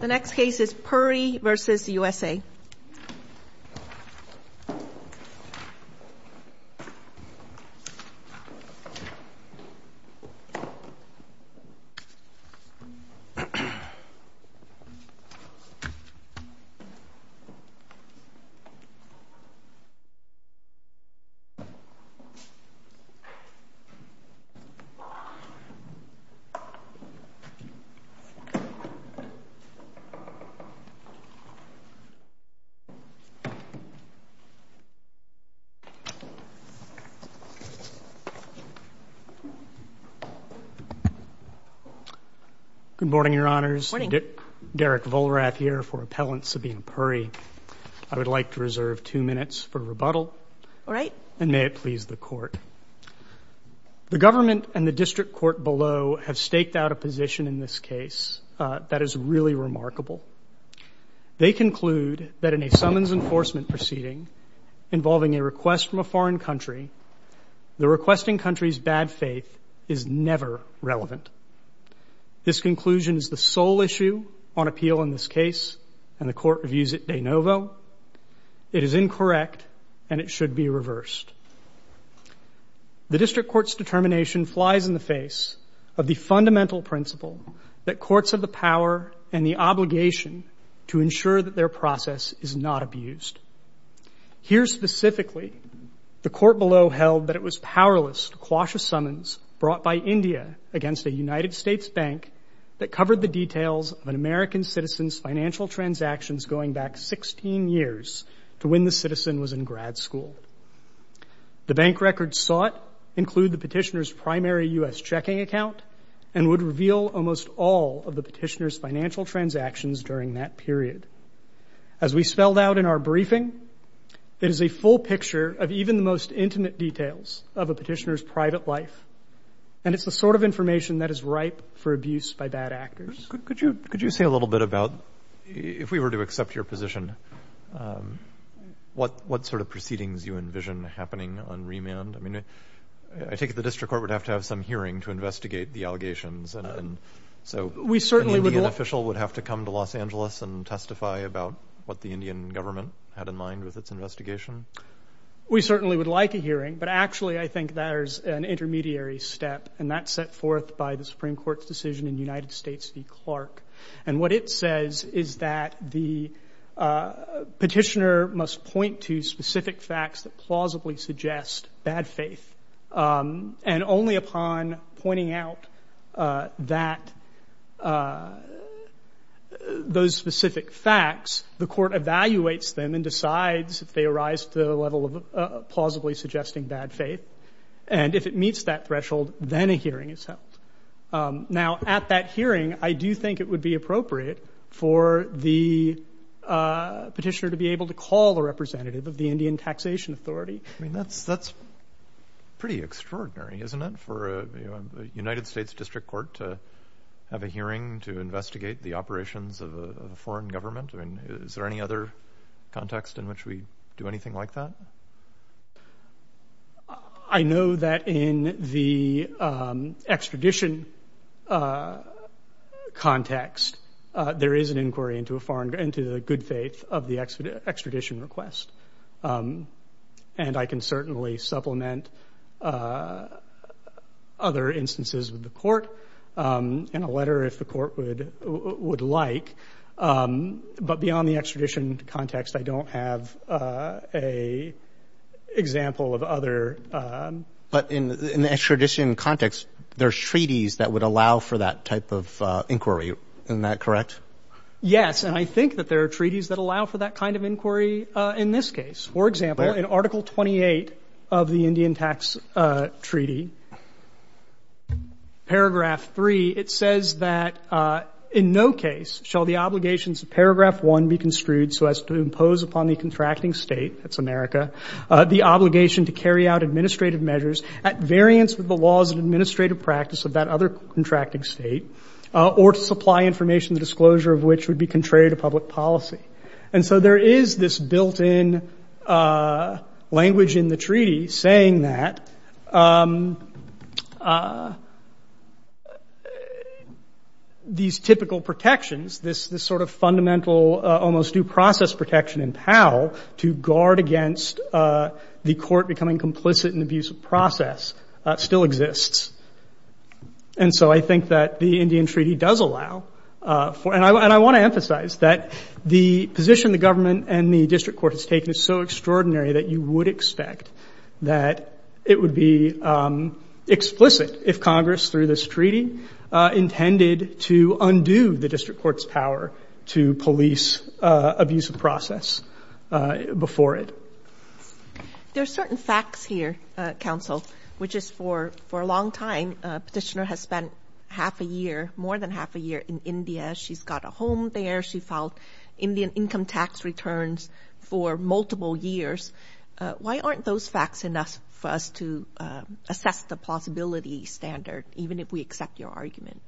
The next case is Puri v. USA. Good morning, Your Honors, Derek Vollrath here for Appellant Sabina Puri. I would like to reserve two minutes for rebuttal and may it please the Court. The government and the district court below have staked out a position in this case that is really remarkable. They conclude that in a summons enforcement proceeding involving a request from a foreign country, the requesting country's bad faith is never relevant. This conclusion is the sole issue on appeal in this case and the Court reviews it de novo. It is incorrect and it should be reversed. The district court's determination flies in the face of the fundamental principle that courts have the power and the obligation to ensure that their process is not abused. Here specifically, the Court below held that it was powerless to quash a summons brought by India against a United States bank that covered the details of an American citizen's financial transactions going back 16 years to when the citizen was in grad school. The bank records sought include the petitioner's primary U.S. checking account and would reveal almost all of the petitioner's financial transactions during that period. As we spelled out in our briefing, it is a full picture of even the most intimate details of a petitioner's private life and it's the sort of information that is ripe for abuse by bad actors. Could you say a little bit about, if we were to accept your position, what sort of proceedings you envision happening on remand? I mean, I take it the district court would have to have some hearing to investigate the So, an Indian official would have to come to Los Angeles and testify about what the Indian government had in mind with its investigation? We certainly would like a hearing, but actually I think there's an intermediary step and that's set forth by the Supreme Court's decision in United States v. Clark. And what it says is that the petitioner must point to specific facts that plausibly suggest bad faith. And only upon pointing out that, those specific facts, the court evaluates them and decides if they arise to the level of plausibly suggesting bad faith. And if it meets that threshold, then a hearing is held. Now at that hearing, I do think it would be appropriate for the petitioner to be able to call a representative of the Indian Taxation Authority. I mean, that's pretty extraordinary, isn't it, for the United States District Court to have a hearing to investigate the operations of a foreign government? Is there any other context in which we do anything like that? I know that in the extradition context, there is an inquiry into the good faith of the extradition request. And I can certainly supplement other instances with the court in a letter if the court would like. But beyond the extradition context, I don't have a example of other. But in the extradition context, there's treaties that would allow for that type of inquiry. Isn't that correct? Yes. And I think that there are treaties that allow for that kind of inquiry in this case. For example, in Article 28 of the Indian Tax Treaty, Paragraph 3, it says that in no case shall the obligations of Paragraph 1 be construed so as to impose upon the contracting state — that's America — the obligation to carry out administrative measures at variance with the laws and administrative practice of that other contracting state, or to supply information the disclosure of which would be contrary to public policy. And so there is this built-in language in the treaty saying that these typical protections, this sort of fundamental, almost due process protection in POW, to guard against the court becoming complicit in the abuse of process, still exists. And so I think that the Indian Treaty does allow for — and I want to emphasize that the position the government and the district court has taken is so extraordinary that you would expect that it would be explicit if Congress, through this treaty, intended to undo the district court's power to police abuse of process before it. There are certain facts here, Counsel, which is for a long time, Petitioner has spent half a year, more than half a year, in India. She's got a home there. She filed Indian income tax returns for multiple years. Why aren't those facts enough for us to assess the plausibility standard, even if we accept your argument?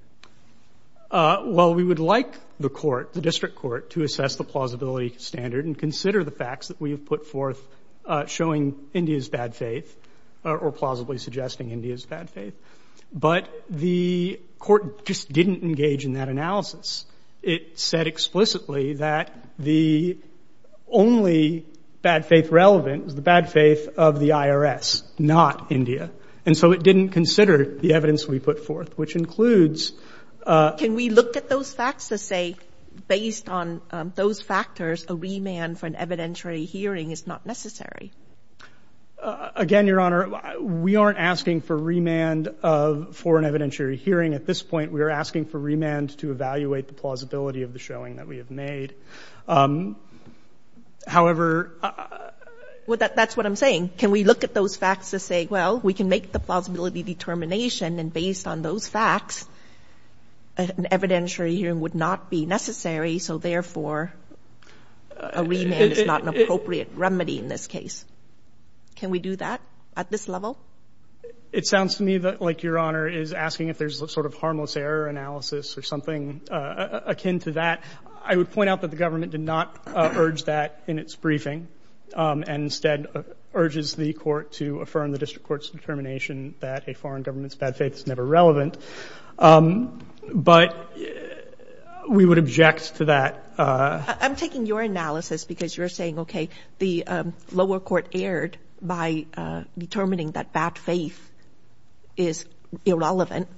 Well, we would like the court, the district court, to assess the plausibility standard and consider the facts that we have put forth showing India's bad faith, or plausibly suggesting India's bad faith. But the court just didn't engage in that analysis. It said explicitly that the only bad faith relevant was the bad faith of the IRS, not India. And so it didn't consider the evidence we put forth, which includes — Can we look at those facts to say, based on those factors, a remand for an evidentiary hearing is not necessary? Again, Your Honor, we aren't asking for remand for an evidentiary hearing at this point. We are asking for remand to evaluate the plausibility of the showing that we have made. However — Well, that's what I'm saying. Can we look at those facts to say, well, we can make the plausibility determination and, based on those facts, an evidentiary hearing would not be necessary, so, therefore, a remand is not an appropriate remedy in this case? Can we do that at this level? It sounds to me like Your Honor is asking if there's a sort of harmless error analysis or something akin to that. I would point out that the government did not urge that in its briefing, and instead urges the court to affirm the district court's determination that a foreign government's bad faith is never relevant. But we would object to that. I'm taking your analysis because you're saying, okay, the lower court erred by determining that bad faith is irrelevant.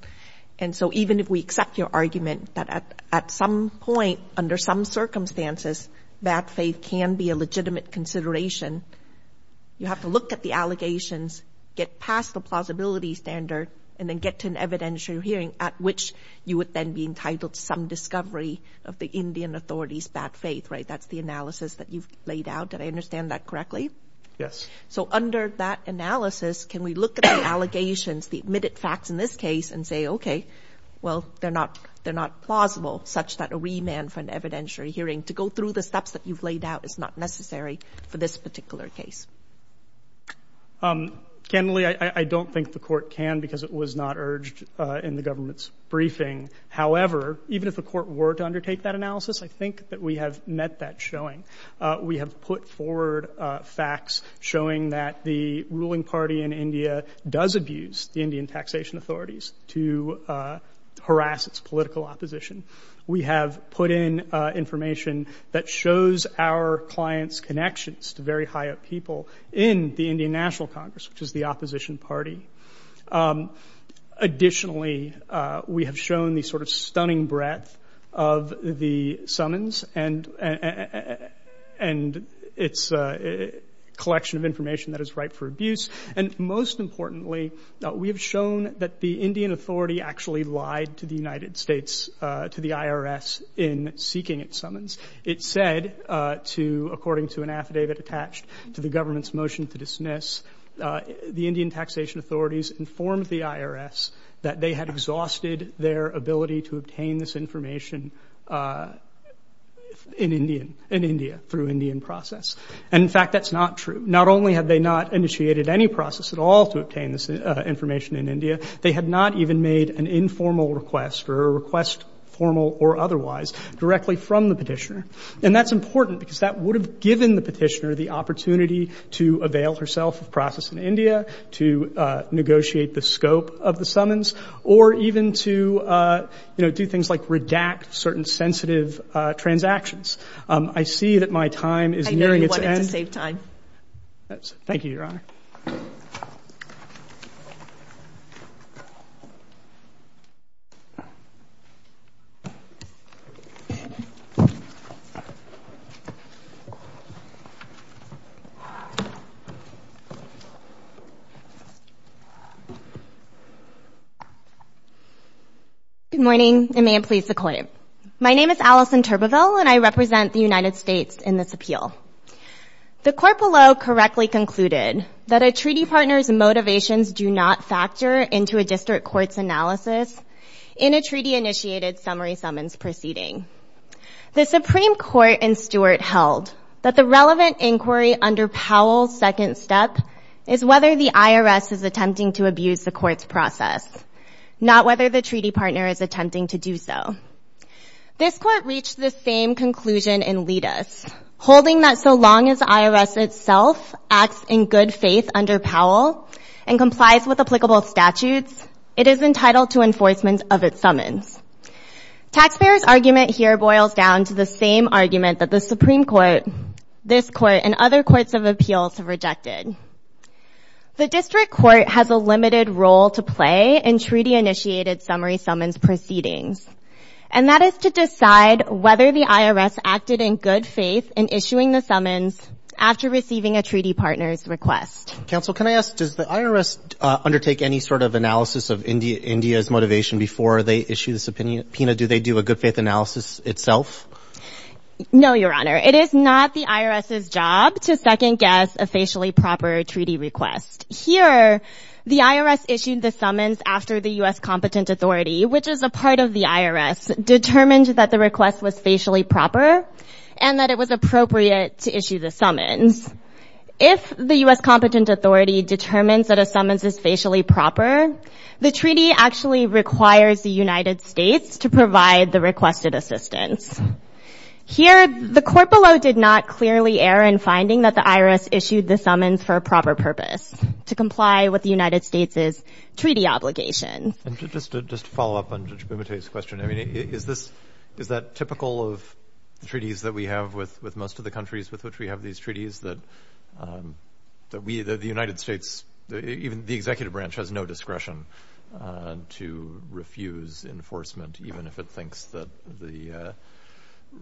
And so even if we accept your argument that at some point, under some circumstances, bad faith can be a legitimate consideration, you have to look at the allegations, get past the plausibility standard, and then get to an evidentiary hearing, at which you would then be entitled to some discovery of the Indian authority's bad faith, right? That's the analysis that you've laid out. Did I understand that correctly? Yes. So under that analysis, can we look at the allegations, the admitted facts in this case, and say, okay, well, they're not plausible, such that a remand for an evidentiary hearing to go through the steps that you've laid out is not necessary for this particular case? Candidly, I don't think the court can because it was not urged in the government's briefing. However, even if the court were to undertake that analysis, I think that we have met that showing. We have put forward facts showing that the ruling party in India does abuse the Indian taxation authorities to harass its political opposition. We have put in information that shows our clients' connections to very high-up people in the Indian National Congress, which is the opposition party. Additionally, we have shown the sort of stunning breadth of the summons and its collection of information that is ripe for abuse. And most importantly, we have shown that the Indian authority actually lied to the United States in seeking its summons. It said, according to an affidavit attached to the government's motion to dismiss, the Indian taxation authorities informed the United States that they had exhausted their ability to obtain this information in India through Indian process. And in fact, that's not true. Not only have they not initiated any process at all to obtain this information in India, they had not even made an informal request or a request formal or otherwise directly from the petitioner. And that's important because that would have given the petitioner the opportunity to avail herself of process in India, to negotiate the scope of the summons, or even to, you know, do things like redact certain sensitive transactions. I see that my time is nearing its end. MS. TURBEVILLE. Good morning, and may it please the Court. My name is Allison Turbeville, and I represent the United States in this appeal. The court below correctly concluded that a treaty partner's motivations do not factor into a district court's analysis in a treaty-initiated summary summons proceeding. The Supreme Court in Stewart held that the relevant inquiry under Powell's second step is whether the IRS is attempting to abuse the court's process, not whether the treaty partner is attempting to do so. This court reached the same conclusion in Litas, holding that so long as the IRS itself acts in good faith under Powell and complies with applicable statutes, it is entitled to enforcement of its summons. Taxpayers' argument here boils down to the same argument that the Supreme Court, this The district court has a limited role to play in treaty-initiated summary summons proceedings, and that is to decide whether the IRS acted in good faith in issuing the summons after receiving a treaty partner's request. MR. CARNEY. Counsel, can I ask, does the IRS undertake any sort of analysis of India's motivation before they issue this opinion? Pina, do they do a good faith analysis itself? MS. TURBEVILLE. No, Your Honor. It is not the IRS's job to second-guess a facially proper treaty request. Here, the IRS issued the summons after the U.S. competent authority, which is a part of the IRS, determined that the request was facially proper and that it was appropriate to issue the summons. If the U.S. competent authority determines that a summons is facially proper, the treaty actually requires the United States to provide the requested assistance. Here, the court below did not clearly err in finding that the IRS issued the summons for a proper purpose, to comply with the United States' treaty obligation. MR. CARNEY. And just to follow up on Judge Bumate's question, I mean, is this – is that typical of treaties that we have with most of the countries with which we have these treaties, that we – that the United States, even the executive branch, has no discretion to refuse enforcement, even if it thinks that the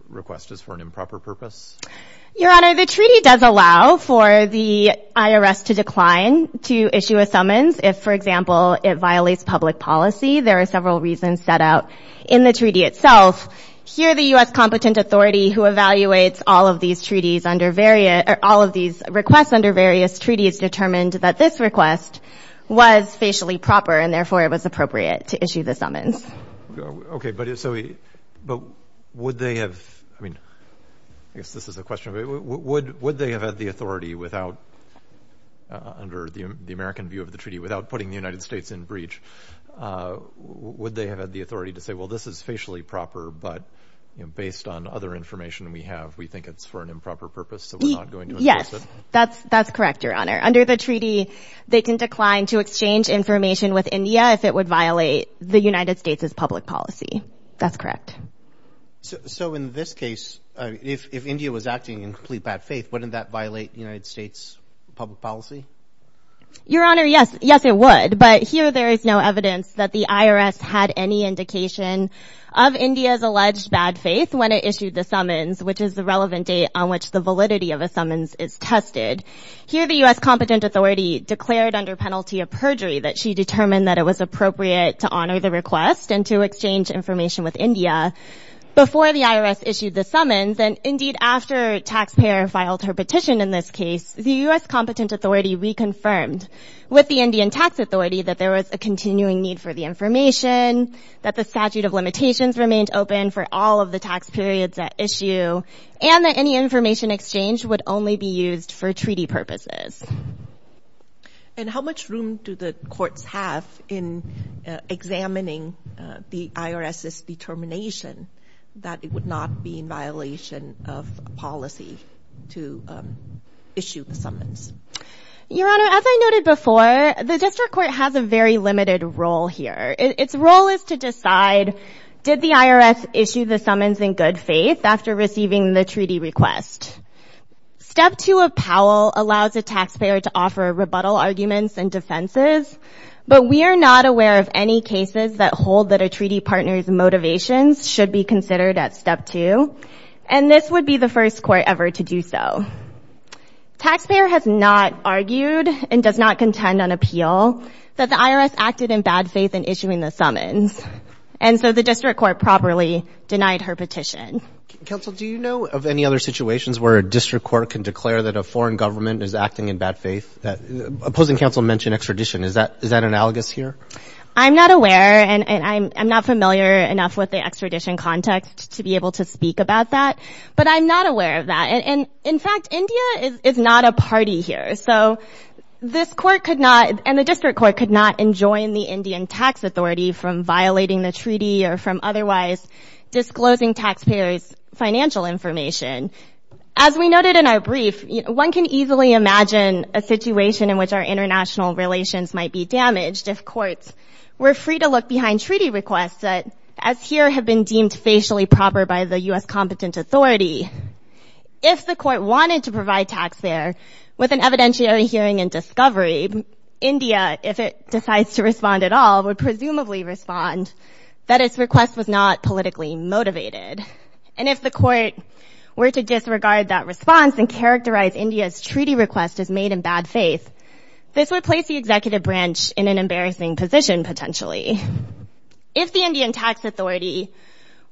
request is for an improper purpose? BUMATE. Your Honor, the treaty does allow for the IRS to decline to issue a summons if, for example, it violates public policy. There are several reasons set out in the treaty itself. Here, the U.S. competent authority, who evaluates all of these treaties under various – or all of these requests under various treaties, determined that this request was facially proper and, therefore, it was appropriate to issue the summons. MR. CARNEY. But so – but would they have – I mean, I guess this is a question, but would they have had the authority without – under the American view of the treaty, without putting the United States in breach, would they have had the authority to say, well, this is facially proper but, you know, based on other information we have, we think it's for an improper purpose so we're not going to enforce it? MS. BUMATE. Yes. That's correct, Your Honor. Under the treaty, they can decline to exchange information with India if it would violate the United States' public policy. That's correct. MR. CARNEY. So in this case, if India was acting in complete bad faith, wouldn't that violate United States' public policy? MS. BUMATE. Your Honor, yes. Yes, it would. But here there is no evidence that the IRS had any indication of India's alleged bad faith when it issued the summons, which is the relevant date on which the validity of a summons is tested. Here the U.S. competent authority declared under penalty of perjury that she determined that it was appropriate to honor the request and to exchange information with India before the IRS issued the summons and, indeed, after taxpayer filed her petition in this case, the U.S. competent authority reconfirmed with the Indian tax authority that there was a continuing need for the information, that the statute of limitations remained open for all of the tax periods at issue, and that any information exchange would only be used for treaty purposes. MS. BUMATE. And how much room do the courts have in examining the IRS's determination that it would not be in violation of policy to issue the summons? MS. BUMATE. Your Honor, as I noted before, the district court has a very limited role here. Its role is to decide, did the IRS issue the summons in good faith after receiving the treaty request? Step two of Powell allows a taxpayer to offer rebuttal arguments and defenses, but we are not aware of any cases that hold that a treaty partner's motivations should be considered at step two, and this would be the first court ever to do so. Taxpayer has not argued and does not contend on appeal that the IRS acted in bad faith in issuing the summons, and so the district court properly denied her petition. MR. GARRETT. Counsel, do you know of any other situations where a district court can declare that a foreign government is acting in bad faith? Opposing counsel mentioned extradition. Is that analogous here? MS. BUMATE. I'm not aware, and I'm not familiar enough with the extradition context to be able to speak about that, but I'm not aware of that. In fact, India is not a party here, so this court could not, and the district court could not enjoin the Indian tax authority from violating the treaty or from otherwise disclosing taxpayer 's financial information. As we noted in our brief, one can easily imagine a situation in which our international relations might be damaged if courts were free to look behind treaty requests that, as here, have been deemed facially proper by the U.S. competent authority. If the court wanted to provide taxpayer with an evidentiary hearing and discovery, India, if it decides to respond at all, would presumably respond that its request was not politically motivated. And if the court were to disregard that response and characterize India's treaty request as made in bad faith, this would place the executive branch in an embarrassing position, potentially. If the Indian tax authority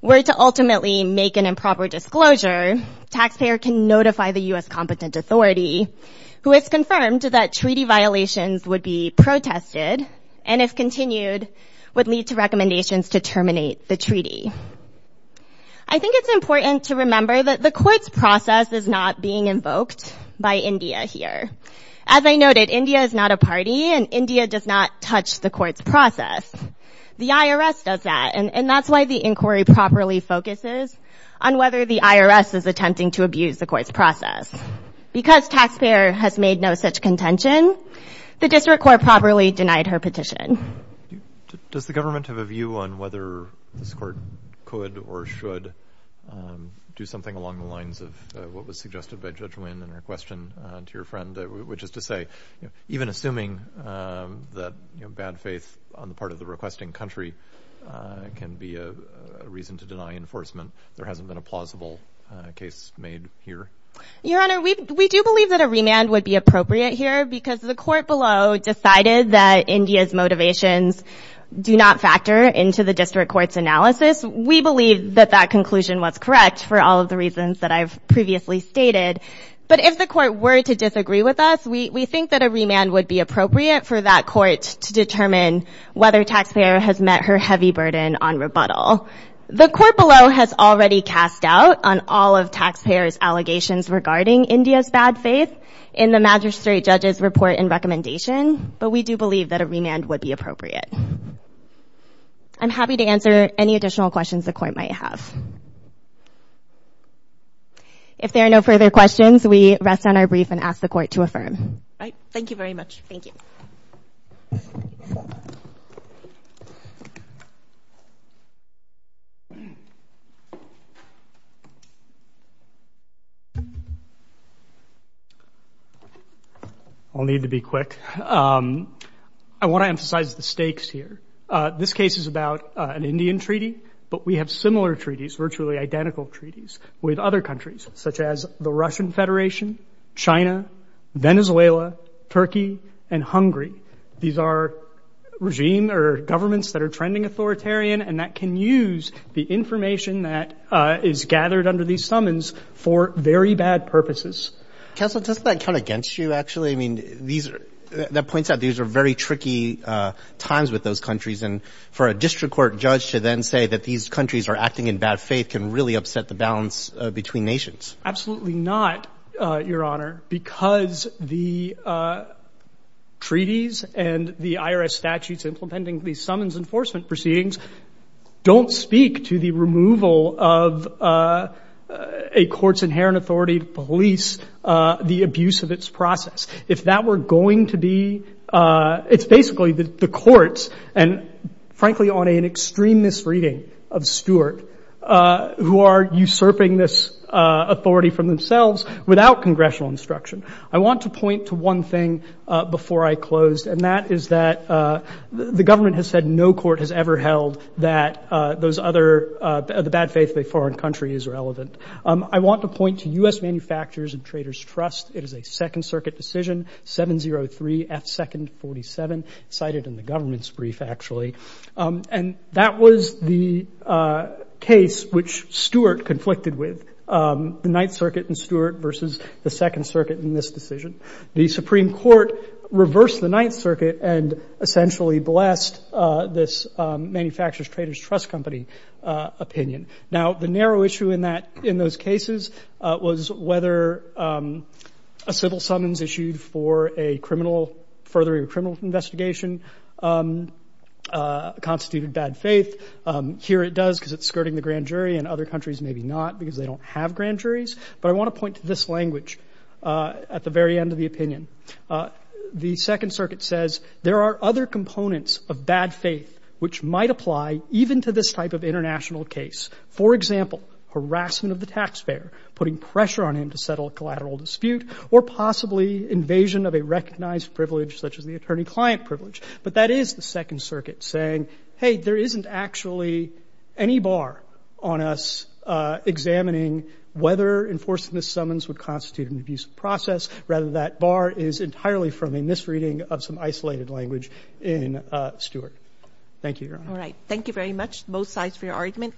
were to ultimately make an improper disclosure, taxpayer can notify the U.S. competent authority, who has confirmed that treaty violations would be I think it's important to remember that the court's process is not being invoked by India here. As I noted, India is not a party, and India does not touch the court's process. The IRS does that, and that's why the inquiry properly focuses on whether the IRS is attempting to abuse the court's process. Because taxpayer has made no such contention, the district court properly denied her petition. Does the government have a view on whether this court could or should do something along the lines of what was suggested by Judge Wynn in her question to your friend, which is to say, even assuming that bad faith on the part of the requesting country can be a reason to deny enforcement, there hasn't been a plausible case made here? Your Honor, we do believe that a remand would be appropriate here, because the court below decided that India's motivations do not factor into the district court's analysis. We believe that that conclusion was correct for all of the reasons that I've previously stated, but if the court were to disagree with us, we think that a remand would be appropriate for that court to determine whether taxpayer has met her heavy burden on rebuttal. The court below has already cast doubt on all of taxpayer's allegations regarding India's bad faith in the magistrate judge's report and recommendation, but we do believe that a remand would be appropriate. I'm happy to answer any additional questions the court might have. If there are no further questions, we rest on our brief and ask the court to affirm. Thank you very much. Thank you. I'll need to be quick. I want to emphasize the stakes here. This case is about an Indian treaty, but we have similar treaties, virtually identical treaties, with other countries, such as the Russian Federation, China, Venezuela, Turkey, and Hungary. These are regime or governments that are trending authoritarian and that can use the information that is gathered under these summons for very bad purposes. Counsel, doesn't that count against you, actually? I mean, that points out these are very tricky times with those countries, and for a district court judge to then say that these countries are acting in bad faith can really upset the balance between nations. Absolutely not, Your Honor, because the treaties and the IRS statutes implementing these summons and enforcement proceedings don't speak to the removal of a court's inherent authority to police the abuse of its process. If that were going to be, it's basically the courts, and frankly on an extreme misreading of Stewart, who are usurping this authority from themselves without congressional instruction. I want to point to one thing before I close, and that is that the government has said no court has ever held that the bad faith of a foreign country is relevant. I want to point to U.S. Manufacturers and Traders Trust. It is a Second Circuit decision, 703 F. 2nd 47, cited in the government's brief, actually. And that was the case which Stewart conflicted with, the Ninth Circuit and Stewart versus the Second Circuit in this decision. The Supreme Court reversed the Ninth Circuit and essentially blessed this Manufacturers Traders Trust Company opinion. Now the narrow issue in those cases was whether a civil summons issued for a criminal, furthering a criminal investigation, constituted bad faith. Here it does because it's skirting the grand jury, and other countries maybe not because they don't have grand juries. But I want to point to this language at the very end of the opinion. The Second Circuit says there are other components of bad faith which might apply even to this type of international case. For example, harassment of the taxpayer, putting pressure on him to settle a collateral dispute, or possibly invasion of a recognized privilege such as the attorney-client privilege. But that is the Second Circuit saying, hey, there isn't actually any bar on us examining whether enforcing this summons would constitute an abusive process, rather that bar is entirely from a misreading of some isolated language in Stewart. Thank you, Your Honor. All right. Thank you very much. Both sides for your argument.